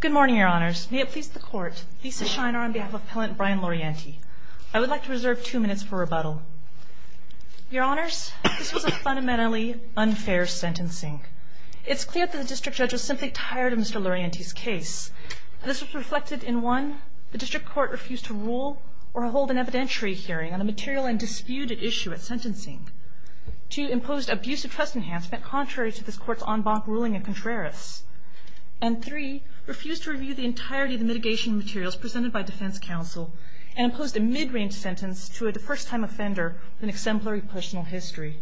Good morning, Your Honors. May it please the Court, Lisa Shiner on behalf of Appellant Bryan Laurienti. I would like to reserve two minutes for rebuttal. Your Honors, this was a fundamentally unfair sentencing. It's clear that the District Judge was simply tired of Mr. Laurienti's case. This was reflected in one, the District Court refused to rule or hold an evidentiary hearing on a material and disputed issue at sentencing. Two, imposed abusive trust enhancement contrary to this Court's en banc ruling in contraris. And three, refused to review the entirety of the mitigation materials presented by Defense Counsel and imposed a mid-range sentence to a first-time offender with an exemplary personal history.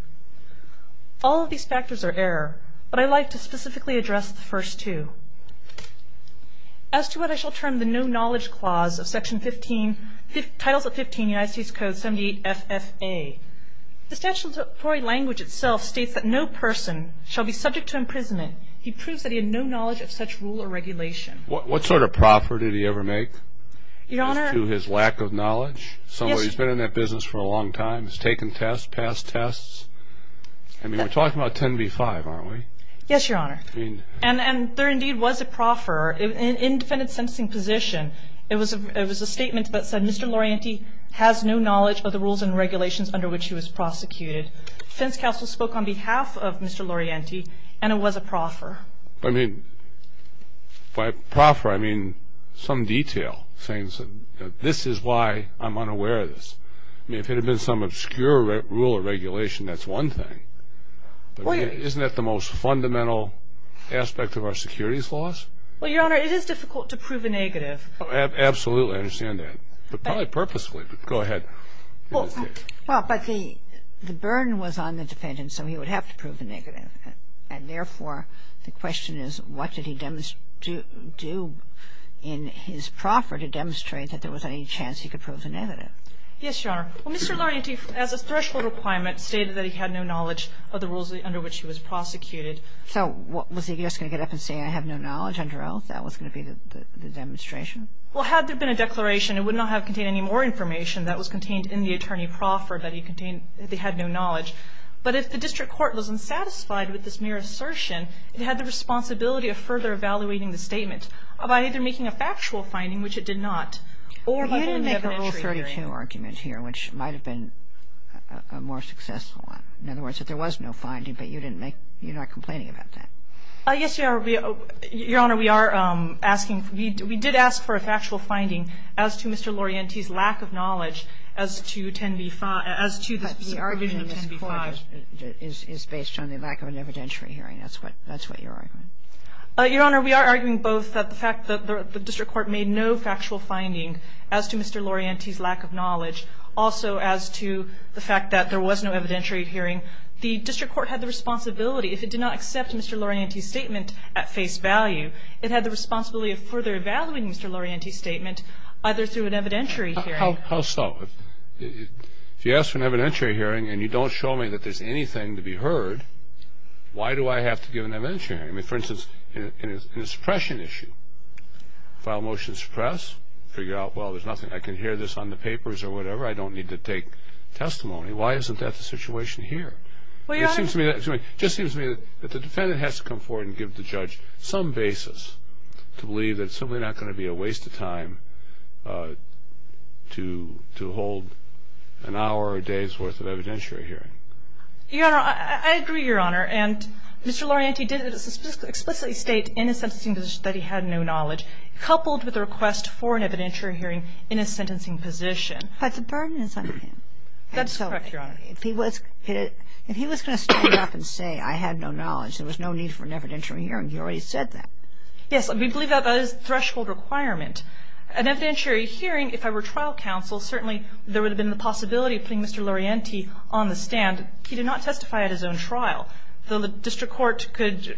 All of these factors are error, but I'd like to specifically address the first two. As to what I shall term the no-knowledge clause of Section 15, Titles of 15 United States Code 78 FFA, the statutory language itself states that no person shall be subject to imprisonment until he proves that he had no knowledge of such rule or regulation. What sort of proffer did he ever make to his lack of knowledge? Somebody who's been in that business for a long time, has taken tests, passed tests? I mean, we're talking about 10 v. 5, aren't we? Yes, Your Honor. And there indeed was a proffer in defendant's sentencing position. It was a statement that said, Mr. Laurienti has no knowledge of the rules and regulations under which he was prosecuted. Defense Counsel spoke on behalf of Mr. Laurienti, and it was a proffer. I mean, by proffer, I mean some detail, saying this is why I'm unaware of this. I mean, if it had been some obscure rule or regulation, that's one thing. Isn't that the most fundamental aspect of our securities laws? Well, Your Honor, it is difficult to prove a negative. Absolutely, I understand that. But probably purposefully. Go ahead. Well, but the burden was on the defendant, so he would have to prove a negative. And therefore, the question is, what did he do in his proffer to demonstrate that there was any chance he could prove a negative? Yes, Your Honor. Well, Mr. Laurienti, as a threshold requirement, stated that he had no knowledge of the rules under which he was prosecuted. So was he just going to get up and say I have no knowledge under oath? That was going to be the demonstration? Well, had there been a declaration, it would not have contained any more information. That was contained in the attorney proffer that he contained that he had no knowledge. But if the district court was unsatisfied with this mere assertion, it had the responsibility of further evaluating the statement by either making a factual finding, which it did not, or by making an evidentiary. You didn't make a Rule 32 argument here, which might have been a more successful one. In other words, if there was no finding, but you didn't make you're not complaining about that. Yes, Your Honor. Your Honor, we are asking, we did ask for a factual finding as to Mr. Laurienti's lack of knowledge as to 10b-5, as to the subpoena of 10b-5. But the argument in this Court is based on the lack of an evidentiary hearing. That's what you're arguing? Your Honor, we are arguing both the fact that the district court made no factual finding as to Mr. Laurienti's lack of knowledge. Also, as to the fact that there was no evidentiary hearing. The district court had the responsibility. If it did not accept Mr. Laurienti's statement at face value, it had the responsibility of further evaluating Mr. Laurienti's statement, either through an evidentiary hearing. How so? If you ask for an evidentiary hearing and you don't show me that there's anything to be heard, why do I have to give an evidentiary hearing? I mean, for instance, in a suppression issue. File a motion to suppress, figure out, well, there's nothing. I can hear this on the papers or whatever. I don't need to take testimony. Why isn't that the situation here? Well, Your Honor. It just seems to me that the defendant has to come forward and give the judge some basis to believe that it's simply not going to be a waste of time to hold an hour or a day's worth of evidentiary hearing. Your Honor, I agree, Your Honor. And Mr. Laurienti did explicitly state in his sentencing position that he had no knowledge, coupled with the request for an evidentiary hearing in his sentencing position. But the burden is on him. That's correct, Your Honor. If he was going to stand up and say I had no knowledge, there was no need for an evidentiary hearing. You already said that. Yes. We believe that that is a threshold requirement. An evidentiary hearing, if I were trial counsel, certainly there would have been the possibility of putting Mr. Laurienti on the stand. He did not testify at his own trial. The district court could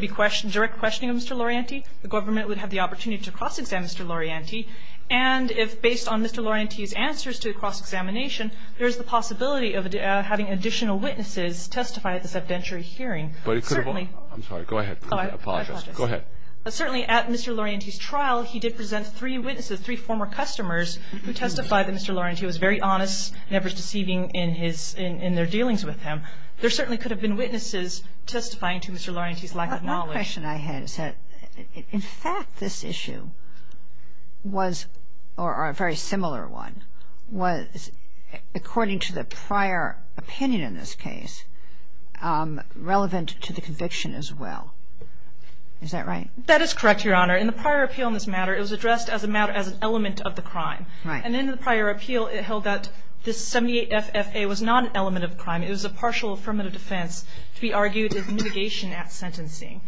be questioning, direct questioning of Mr. Laurienti. The government would have the opportunity to cross-exam Mr. Laurienti. And if, based on Mr. Laurienti's answers to the cross-examination, there is the possibility of having additional witnesses testify at this evidentiary hearing. Certainly. I'm sorry. Go ahead. I apologize. Go ahead. Certainly, at Mr. Laurienti's trial, he did present three witnesses, three former customers, who testified that Mr. Laurienti was very honest and never deceiving in his – in their dealings with him. There certainly could have been witnesses testifying to Mr. Laurienti's lack of knowledge. One question I had is that, in fact, this issue was – or a very similar one was, according to the prior opinion in this case, relevant to the conviction as well. Is that right? That is correct, Your Honor. In the prior appeal in this matter, it was addressed as a matter – as an element of the crime. Right. And in the prior appeal, it held that this 78-FFA was not an element of the crime. It was a partial affirmative defense to be argued as mitigation at sentencing.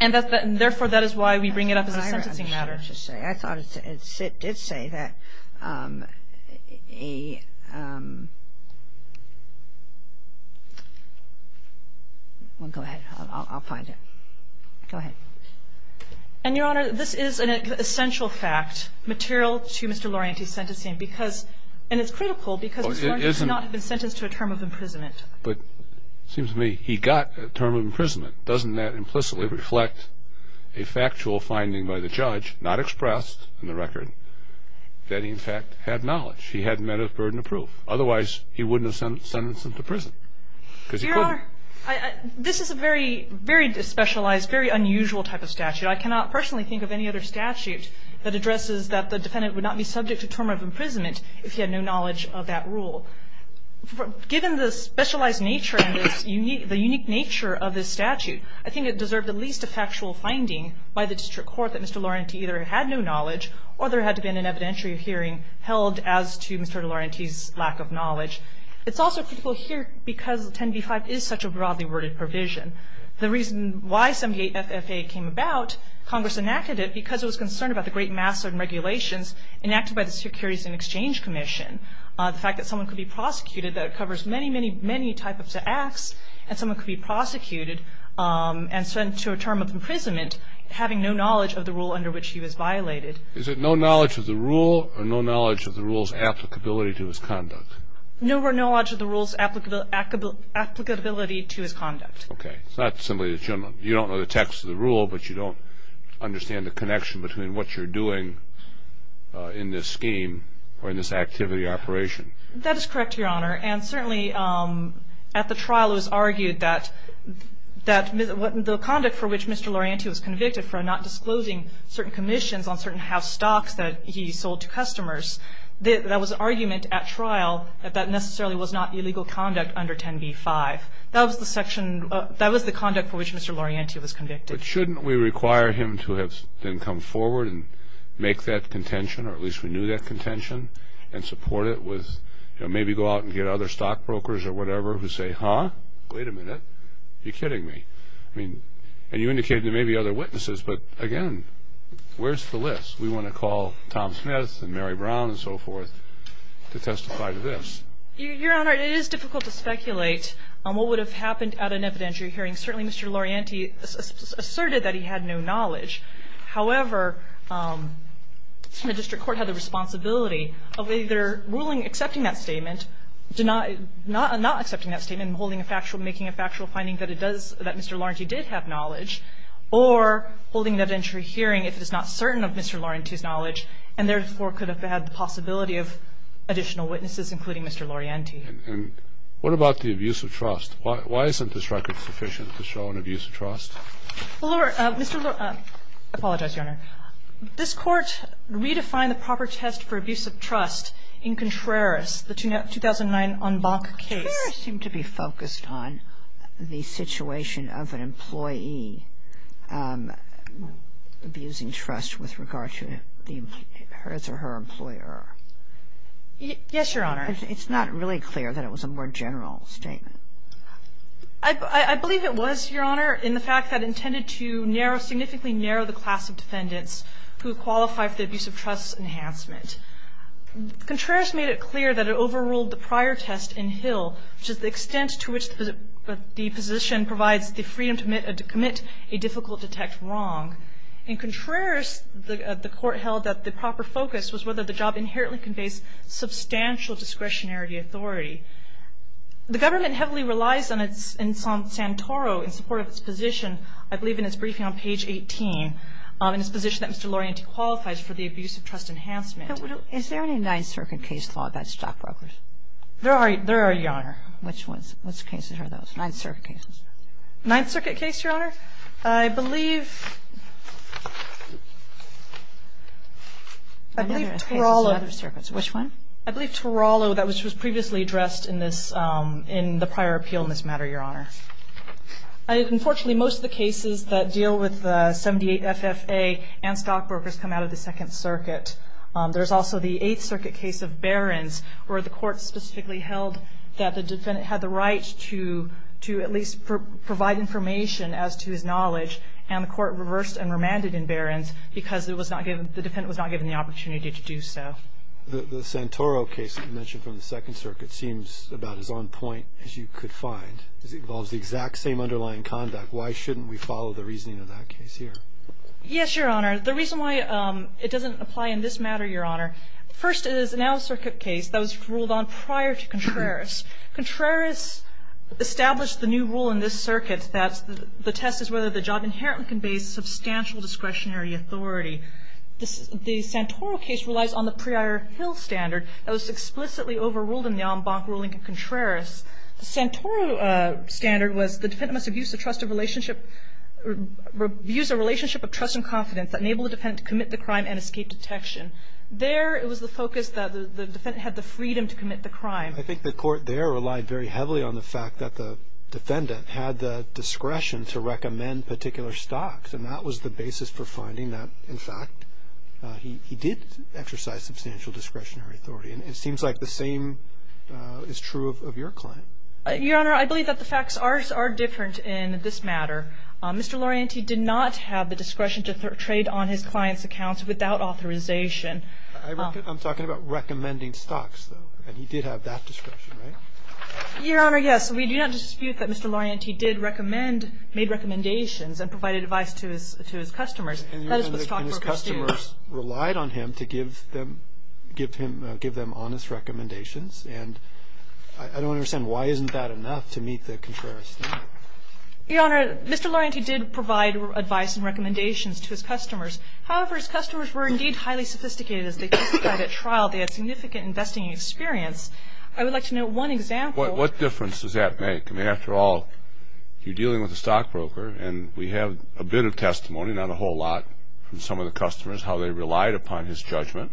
And therefore, that is why we bring it up as a sentencing matter. Well, I don't know what to say. I thought it said – it did say that a – well, go ahead. I'll find it. Go ahead. And, Your Honor, this is an essential fact, material to Mr. Laurienti's sentencing, because – and it's critical because Mr. Laurienti did not have been sentenced to a term of imprisonment. But it seems to me he got a term of imprisonment. Doesn't that implicitly reflect a factual finding by the judge, not expressed in the record, that he, in fact, had knowledge? He had met a burden of proof. Otherwise, he wouldn't have sentenced him to prison because he couldn't. Your Honor, this is a very, very specialized, very unusual type of statute. I cannot personally think of any other statute that addresses that the defendant would not be subject to term of imprisonment if he had no knowledge of that rule. Given the specialized nature and the unique nature of this statute, I think it deserved at least a factual finding by the district court that Mr. Laurienti either had no knowledge or there had to have been an evidentiary hearing held as to Mr. Laurienti's lack of knowledge. It's also critical here because 10b-5 is such a broadly worded provision. The reason why 7b-8 FFA came about, Congress enacted it because it was concerned about the great mass of regulations enacted by the Securities and Exchange Commission. The fact that someone could be prosecuted that covers many, many, many types of acts and someone could be prosecuted and sent to a term of imprisonment having no knowledge of the rule under which he was violated. Is it no knowledge of the rule or no knowledge of the rule's applicability to his conduct? No or no knowledge of the rule's applicability to his conduct. Okay. It's not simply the general. You don't know the text of the rule, but you don't understand the connection between what you're doing in this scheme or in this activity operation. That is correct, Your Honor. And certainly at the trial it was argued that the conduct for which Mr. Laurienti was convicted for not disclosing certain commissions on certain house stocks that he sold to customers, that was an argument at trial that that necessarily was not illegal conduct under 10b-5. That was the section of the conduct for which Mr. Laurienti was convicted. But shouldn't we require him to have then come forward and make that contention or at least renew that contention and support it with, you know, maybe go out and get other stockbrokers or whatever who say, Huh? Wait a minute. Are you kidding me? I mean, and you indicated there may be other witnesses, but again, where's the list? We want to call Tom Smith and Mary Brown and so forth to testify to this. Your Honor, it is difficult to speculate on what would have happened at an evidentiary hearing. Certainly Mr. Laurienti asserted that he had no knowledge. However, the district court had the responsibility of either ruling, accepting that statement, not accepting that statement and holding a factual, making a factual finding that it does, that Mr. Laurenti did have knowledge, or holding an evidentiary hearing if it is not certain of Mr. Laurenti's knowledge and therefore could have had the possibility of additional witnesses, including Mr. Laurienti. And what about the abuse of trust? Why isn't this record sufficient to show an abuse of trust? Well, Your Honor, Mr. Laurenti, I apologize, Your Honor. This Court redefined the proper test for abuse of trust in Contreras, the 2009 en banc case. Contreras seemed to be focused on the situation of an employee abusing trust with regard to his or her employer. Yes, Your Honor. It's not really clear that it was a more general statement. I believe it was, Your Honor, in the fact that it intended to narrow, significantly narrow the class of defendants who qualify for the abuse of trust enhancement. Contreras made it clear that it overruled the prior test in Hill, which is the extent to which the position provides the freedom to commit a difficult detect wrong. In Contreras, the Court held that the proper focus was whether the job inherently conveys substantial discretionary authority. The government heavily relies on Santoro in support of its position, I believe, in its briefing on page 18, in its position that Mr. Laurenti qualifies for the abuse of trust enhancement. Is there any Ninth Circuit case law about stockbrokers? There are, Your Honor. Which cases are those, Ninth Circuit cases? Ninth Circuit case, Your Honor? I believe Torolo. Which one? I believe Torolo, which was previously addressed in the prior appeal in this matter, Your Honor. Unfortunately, most of the cases that deal with the 78 FFA and stockbrokers come out of the Second Circuit. There's also the Eighth Circuit case of Behrens, where the Court specifically held that the defendant had the right to at least provide information as to his knowledge, and the Court reversed and remanded in Behrens because the defendant was not given the opportunity to do so. The Santoro case that you mentioned from the Second Circuit seems about as on point as you could find. It involves the exact same underlying conduct. Why shouldn't we follow the reasoning of that case here? Yes, Your Honor. The reason why it doesn't apply in this matter, Your Honor, first, it is an out-of-circuit case that was ruled on prior to Contreras. Contreras established the new rule in this circuit that the test is whether the job inherently conveys substantial discretionary authority. The Santoro case relies on the prior Hill standard that was explicitly overruled in the en banc ruling of Contreras. The Santoro standard was the defendant must abuse a trusted relationship or abuse a relationship of trust and confidence that enabled the defendant to commit the crime and escape detection. There, it was the focus that the defendant had the freedom to commit the crime. I think the Court there relied very heavily on the fact that the defendant had the discretion to recommend particular stocks, and that was the basis for finding that, in fact, he did exercise substantial discretionary authority. And it seems like the same is true of your client. Your Honor, I believe that the facts are different in this matter. Mr. Laurenti did not have the discretion to trade on his client's accounts without authorization. I'm talking about recommending stocks, though. And he did have that discretion, right? Your Honor, yes. We do not dispute that Mr. Laurenti did recommend, made recommendations and provided advice to his customers. And his customers relied on him to give them honest recommendations. And I don't understand why isn't that enough to meet the Contreras standard? Your Honor, Mr. Laurenti did provide advice and recommendations to his customers. However, his customers were, indeed, highly sophisticated. As they testified at trial, they had significant investing experience. I would like to note one example. What difference does that make? I mean, after all, you're dealing with a stockbroker, and we have a bit of testimony, not a whole lot, from some of the customers, how they relied upon his judgment.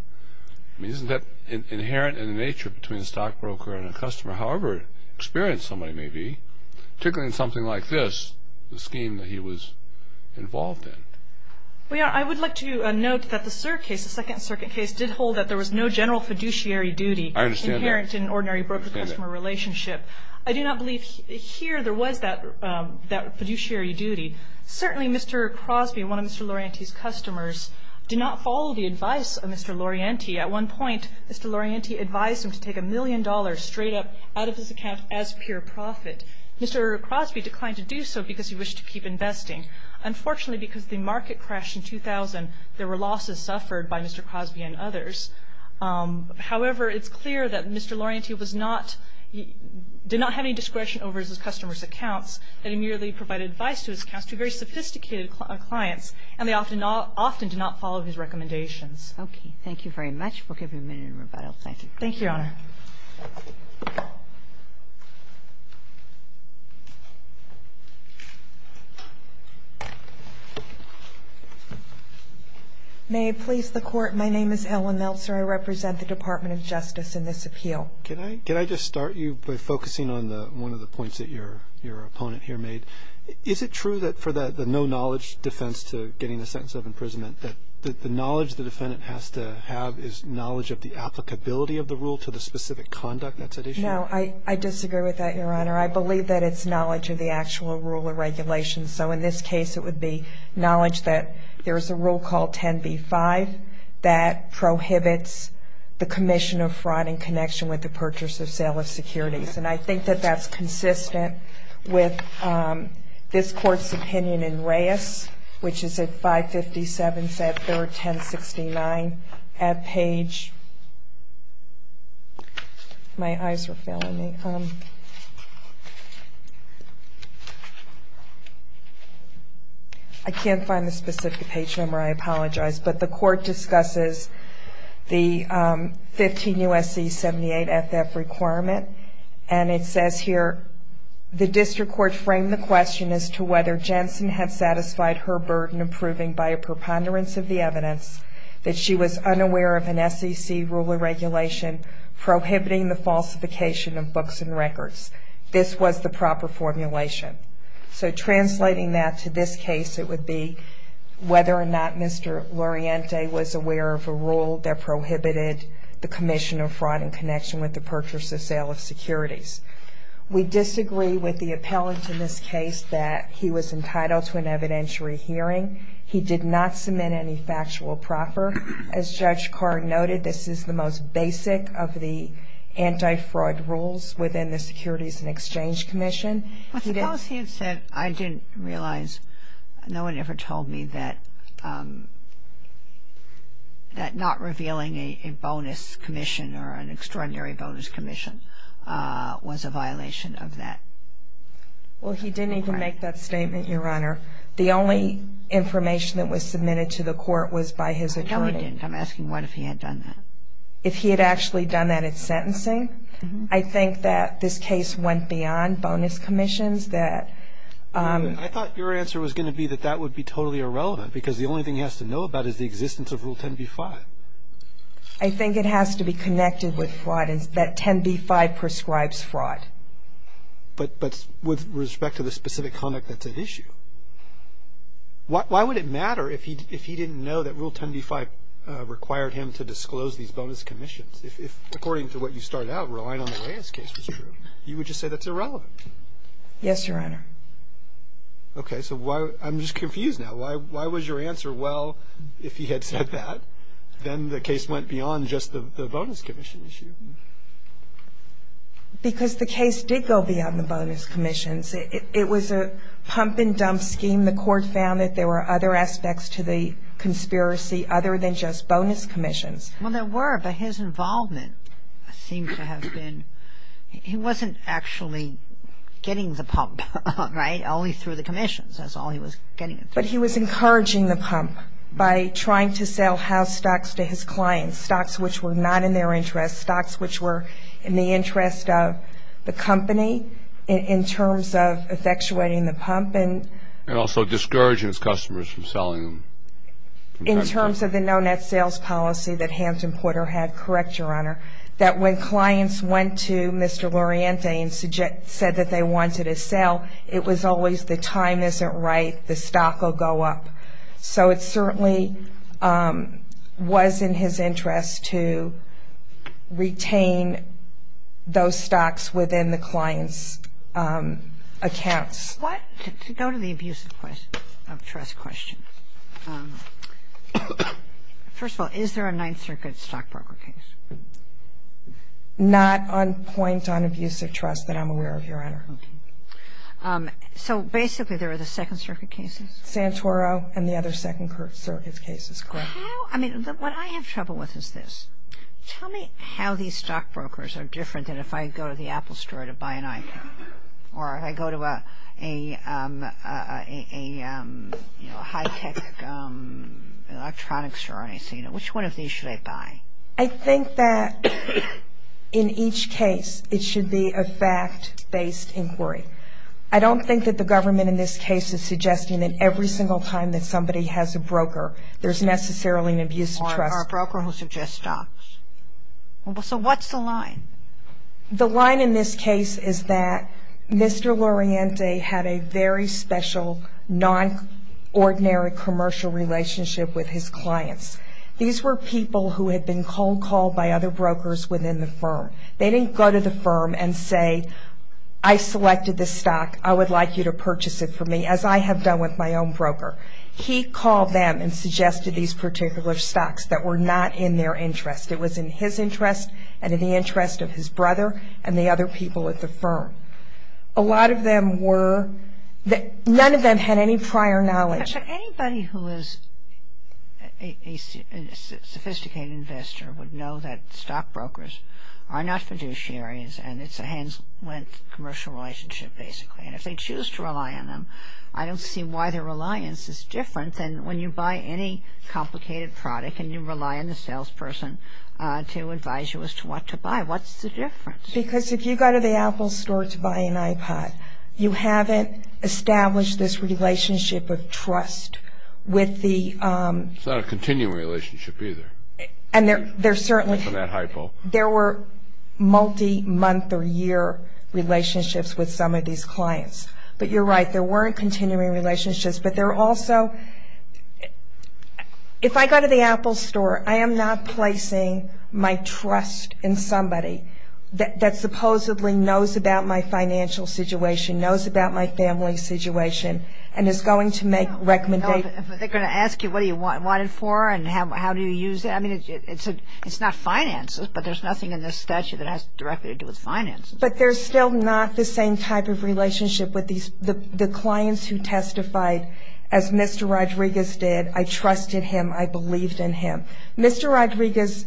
I mean, isn't that inherent in the nature between a stockbroker and a customer, however experienced somebody may be, particularly in something like this, the scheme that he was involved in? Well, Your Honor, I would like to note that the Sir case, the Second Circuit case, did hold that there was no general fiduciary duty. I understand that. Inherent in an ordinary broker-customer relationship. I do not believe here there was that fiduciary duty. Certainly, Mr. Crosby, one of Mr. Laurenti's customers, did not follow the advice of Mr. Laurenti. At one point, Mr. Laurenti advised him to take a million dollars straight up out of his account as pure profit. Mr. Crosby declined to do so because he wished to keep investing. Unfortunately, because the market crashed in 2000, there were losses suffered by Mr. Crosby and others. However, it's clear that Mr. Laurenti did not have any discretion over his customers' accounts, that he merely provided advice to his customers, very sophisticated clients, and they often did not follow his recommendations. Okay. Thank you very much. We'll give you a minute in rebuttal. Thank you. Thank you, Your Honor. May it please the Court, my name is Helen Meltzer. I represent the Department of Justice in this appeal. Can I just start you by focusing on one of the points that your opponent here made? Is it true that for the no-knowledge defense to getting a sentence of imprisonment, that the knowledge the defendant has to have is knowledge of the applicability of the rule to the specific conduct that's at issue? No, I disagree with that, Your Honor. I believe that it's knowledge of the actual rule and regulations. So in this case, it would be knowledge that there's a rule called 10b-5 that prohibits the commission of fraud in connection with the purchase or sale of securities. And I think that that's consistent with this Court's opinion in Reyes, which is at 557-310-69. At page – my eyes are failing me. I can't find the specific page number, I apologize. But the Court discusses the 15 U.S.C. 78-FF requirement. And it says here, the District Court framed the question as to whether Jensen had satisfied her burden of proving by a preponderance of the evidence that she was unaware of an SEC rule or regulation prohibiting the falsification of books and records. This was the proper formulation. So translating that to this case, it would be whether or not Mr. Loriente was aware of a rule that prohibited the commission of fraud in connection with the purchase or sale of securities. We disagree with the appellant in this case that he was entitled to an evidentiary hearing. He did not submit any factual proffer. As Judge Carr noted, this is the most basic of the anti-fraud rules within the Securities and Exchange Commission. But suppose he had said, I didn't realize, no one ever told me that not revealing a bonus commission or an extraordinary bonus commission was a violation of that. Well, he didn't even make that statement, Your Honor. The only information that was submitted to the Court was by his attorney. No, he didn't. I'm asking what if he had done that. If he had actually done that at sentencing, I think that this case went beyond bonus commissions. I thought your answer was going to be that that would be totally irrelevant because the only thing he has to know about is the existence of Rule 10b-5. I think it has to be connected with fraud and that 10b-5 prescribes fraud. But with respect to the specific conduct, that's an issue. Why would it matter if he didn't know that Rule 10b-5 required him to disclose these bonus commissions? If, according to what you started out, relying on the Reyes case was true, you would just say that's irrelevant. Yes, Your Honor. Okay. So I'm just confused now. Why was your answer, well, if he had said that, then the case went beyond just the bonus commission issue? Because the case did go beyond the bonus commissions. It was a pump-and-dump scheme. The Court found that there were other aspects to the conspiracy other than just bonus commissions. Well, there were, but his involvement seemed to have been he wasn't actually getting the pump, right? Only through the commissions. That's all he was getting. But he was encouraging the pump by trying to sell house stocks to his clients, stocks which were not in their interest, stocks which were in the interest of the company in terms of effectuating the pump. And also discouraging his customers from selling them. In terms of the no-net sales policy that Hampton Porter had. Correct, Your Honor. That when clients went to Mr. Loriente and said that they wanted a sale, it was always the time isn't right, the stock will go up. So it certainly was in his interest to retain those stocks within the client's accounts. What to go to the abuse of trust question. First of all, is there a Ninth Circuit stockbroker case? Not on point on abuse of trust that I'm aware of, Your Honor. Okay. So basically there are the Second Circuit cases? Santoro and the other Second Circuit cases, correct. I mean, what I have trouble with is this. Tell me how these stockbrokers are different than if I go to the Apple store to buy an iPhone. Or if I go to a high-tech electronics store and I say, which one of these should I buy? I think that in each case it should be a fact-based inquiry. I don't think that the government in this case is suggesting that every single time that somebody has a broker, there's necessarily an abuse of trust. Or a broker who suggests stocks. So what's the line? The line in this case is that Mr. Loriente had a very special, non-ordinary commercial relationship with his clients. These were people who had been cold-called by other brokers within the firm. They didn't go to the firm and say, I selected this stock. I would like you to purchase it for me, as I have done with my own broker. He called them and suggested these particular stocks that were not in their interest. It was in his interest and in the interest of his brother and the other people at the firm. A lot of them were ñ none of them had any prior knowledge. Anybody who is a sophisticated investor would know that stockbrokers are not fiduciaries and it's a hands-length commercial relationship, basically. And if they choose to rely on them, I don't see why their reliance is different than when you buy any complicated product and you rely on the salesperson to advise you as to what to buy. What's the difference? Because if you go to the Apple store to buy an iPod, you haven't established this relationship of trust with the ñ It's not a continuing relationship, either. And there certainly ñ It's not that hypo. There were multi-month or year relationships with some of these clients. But you're right, there weren't continuing relationships. But there also ñ if I go to the Apple store, I am not placing my trust in somebody that supposedly knows about my financial situation, knows about my family situation, and is going to make recommendations. No, but they're going to ask you what you want it for and how do you use it. I mean, it's not finances, but there's nothing in this statute that has directly to do with finances. But there's still not the same type of relationship with the clients who testified as Mr. Rodriguez did. I trusted him. I believed in him. Mr. Rodriguez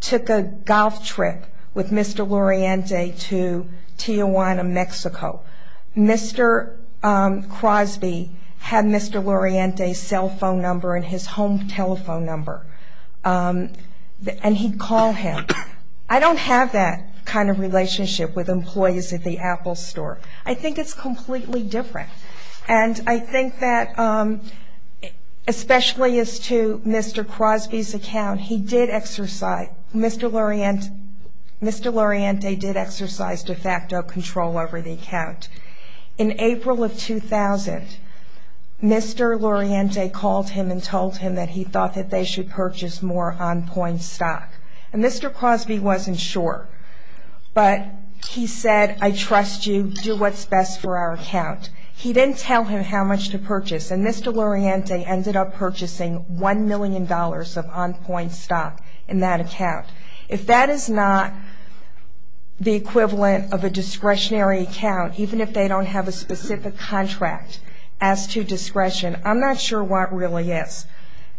took a golf trip with Mr. Luriente to Tijuana, Mexico. Mr. Crosby had Mr. Luriente's cell phone number and his home telephone number, and he'd call him. I don't have that kind of relationship with employees at the Apple store. I think it's completely different. And I think that, especially as to Mr. Crosby's account, he did exercise ñ Mr. Luriente did exercise de facto control over the account. In April of 2000, Mr. Luriente called him and told him that he thought that they should purchase more on-point stock. And Mr. Crosby wasn't sure, but he said, I trust you, do what's best for our account. He didn't tell him how much to purchase, and Mr. Luriente ended up purchasing $1 million of on-point stock in that account. If that is not the equivalent of a discretionary account, even if they don't have a specific contract as to discretion, I'm not sure what really is.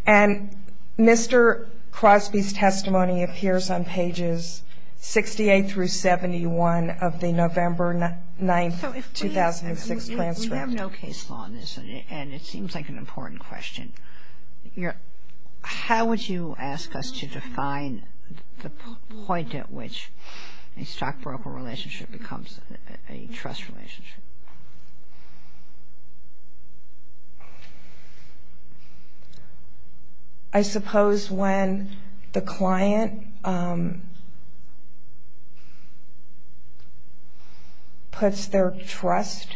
And Mr. Crosby's testimony appears on pages 68 through 71 of the November 9, 2006, transcript. We have no case law on this, and it seems like an important question. How would you ask us to define the point at which a stockbroker relationship becomes a trust relationship? I suppose when the client puts their trust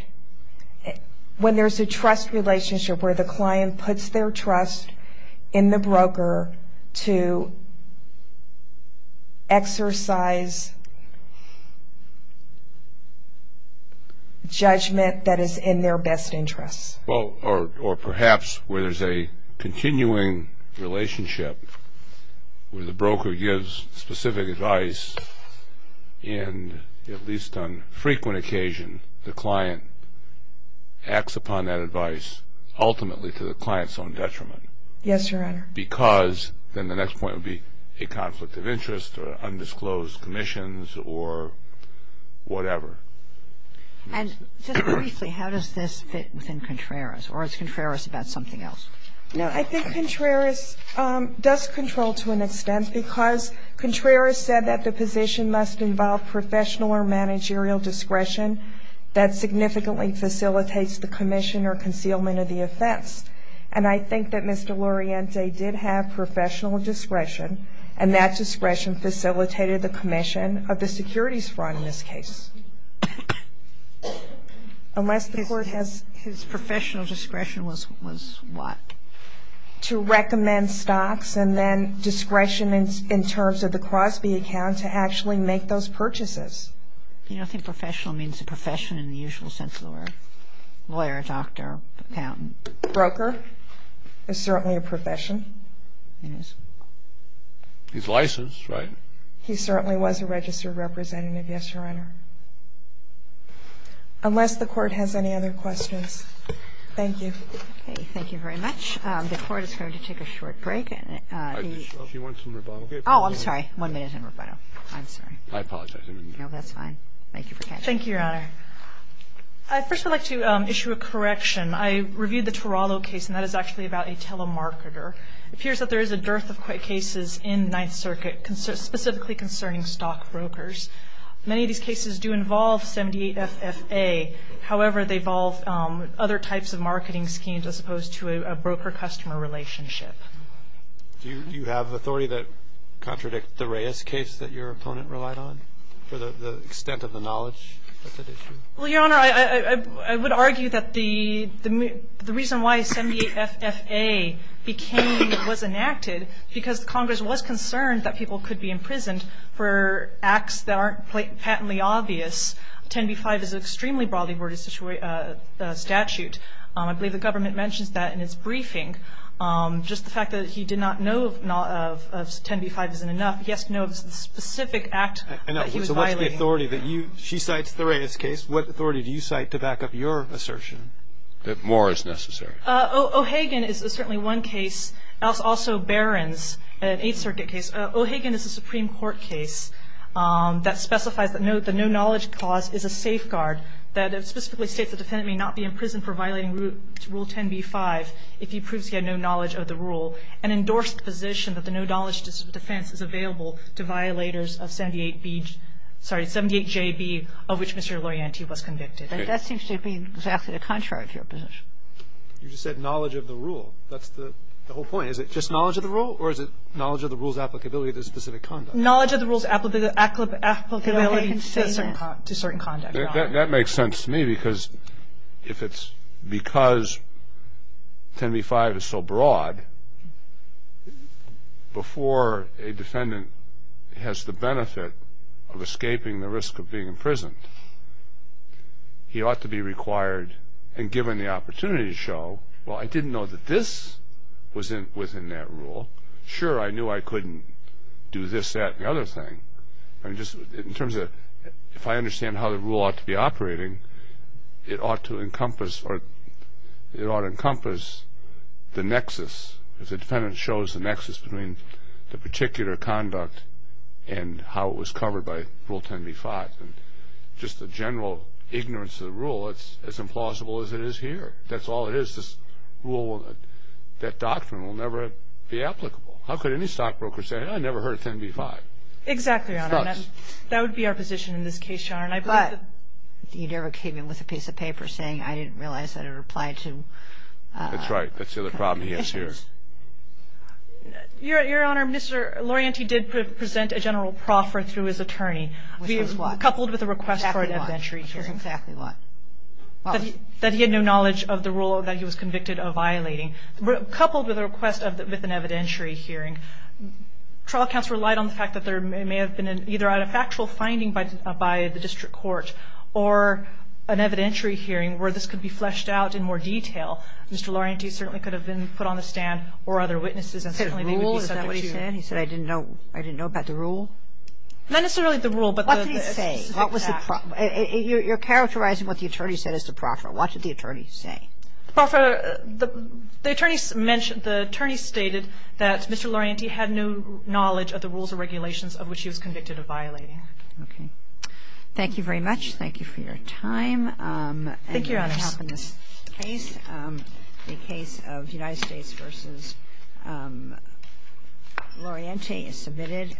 ñ when there's a trust relationship where the client puts their trust in the broker to exercise judgment that is in their best interest. Or perhaps where there's a continuing relationship where the broker gives specific advice, and at least on frequent occasion, the client acts upon that advice, because then the next point would be a conflict of interest or undisclosed commissions or whatever. And just briefly, how does this fit within Contreras? Or is Contreras about something else? No, I think Contreras does control to an extent, because Contreras said that the position must involve professional or managerial discretion that significantly facilitates the commission or concealment of the offense. And I think that Mr. Luriente did have professional discretion, and that discretion facilitated the commission of the securities fraud in this case. Unless the court has ñ His professional discretion was what? To recommend stocks and then discretion in terms of the Crosby account to actually make those purchases. You know, I think professional means a profession in the usual sense of the word. Lawyer, doctor, accountant. Broker is certainly a profession. It is. He's licensed, right? He certainly was a registered representative, yes, Your Honor. Unless the court has any other questions. Thank you. Okay. Thank you very much. The Court is going to take a short break. She wants some rebuttal. Oh, I'm sorry. One minute in rebuttal. I'm sorry. I apologize. No, that's fine. Thank you for catching up. Thank you, Your Honor. First, I'd like to issue a correction. I reviewed the Tarallo case, and that is actually about a telemarketer. It appears that there is a dearth of cases in Ninth Circuit specifically concerning stockbrokers. Many of these cases do involve 78 FFA. However, they involve other types of marketing schemes as opposed to a broker-customer relationship. Do you have authority that contradicts the Reyes case that your opponent relied on for the extent of the knowledge that's at issue? Well, Your Honor, I would argue that the reason why 78 FFA became or was enacted because Congress was concerned that people could be imprisoned for acts that aren't patently obvious, 10b-5 is an extremely broadly worded statute. I believe the government mentions that in its briefing. Just the fact that he did not know of 10b-5 isn't enough. So what's the authority that you ñ she cites the Reyes case. What authority do you cite to back up your assertion? That more is necessary. O'Hagan is certainly one case. Also Barron's, an Eighth Circuit case. O'Hagan is a Supreme Court case that specifies the no-knowledge clause is a safeguard, that specifically states the defendant may not be imprisoned for violating Rule 10b-5 if he proves he had no knowledge of the rule, and endorsed the position that the no-knowledge defense is available to violators of 78B ñ sorry, 78JB, of which Mr. Lorienti was convicted. That seems to be exactly the contrary of your position. You just said knowledge of the rule. That's the whole point. Is it just knowledge of the rule, or is it knowledge of the rule's applicability to specific conduct? Knowledge of the rule's applicability to certain conduct, Your Honor. That makes sense to me, because if it's because 10b-5 is so broad, before a defendant has the benefit of escaping the risk of being imprisoned, he ought to be required and given the opportunity to show, well, I didn't know that this was within that rule. Sure, I knew I couldn't do this, that, and the other thing. In terms of if I understand how the rule ought to be operating, it ought to encompass the nexus. If the defendant shows the nexus between the particular conduct and how it was covered by Rule 10b-5, just the general ignorance of the rule, it's as implausible as it is here. That's all it is. This rule, that doctrine will never be applicable. How could any stockbroker say, I never heard of 10b-5? Exactly, Your Honor. That would be our position in this case, Your Honor. But you never came in with a piece of paper saying, I didn't realize that it applied to. That's right. That's the other problem he has here. Your Honor, Mr. Lorienti did present a general proffer through his attorney. Which was what? Coupled with a request for an evidentiary hearing. Which was exactly what? That he had no knowledge of the rule that he was convicted of violating. Coupled with a request with an evidentiary hearing, trial counsel relied on the fact that there may have been either a factual finding by the district court or an evidentiary hearing where this could be fleshed out in more detail. Mr. Lorienti certainly could have been put on the stand or other witnesses and certainly they would be said what he said. He said I didn't know about the rule? Not necessarily the rule, but the specific fact. What did he say? You're characterizing what the attorney said as the proffer. What did the attorney say? The attorney stated that Mr. Lorienti had no knowledge of the rules or regulations of which he was convicted of violating. Okay. Thank you very much. Thank you for your time. Thank you, Your Honor. And your behalf in this case. The case of United States v. Lorienti is submitted.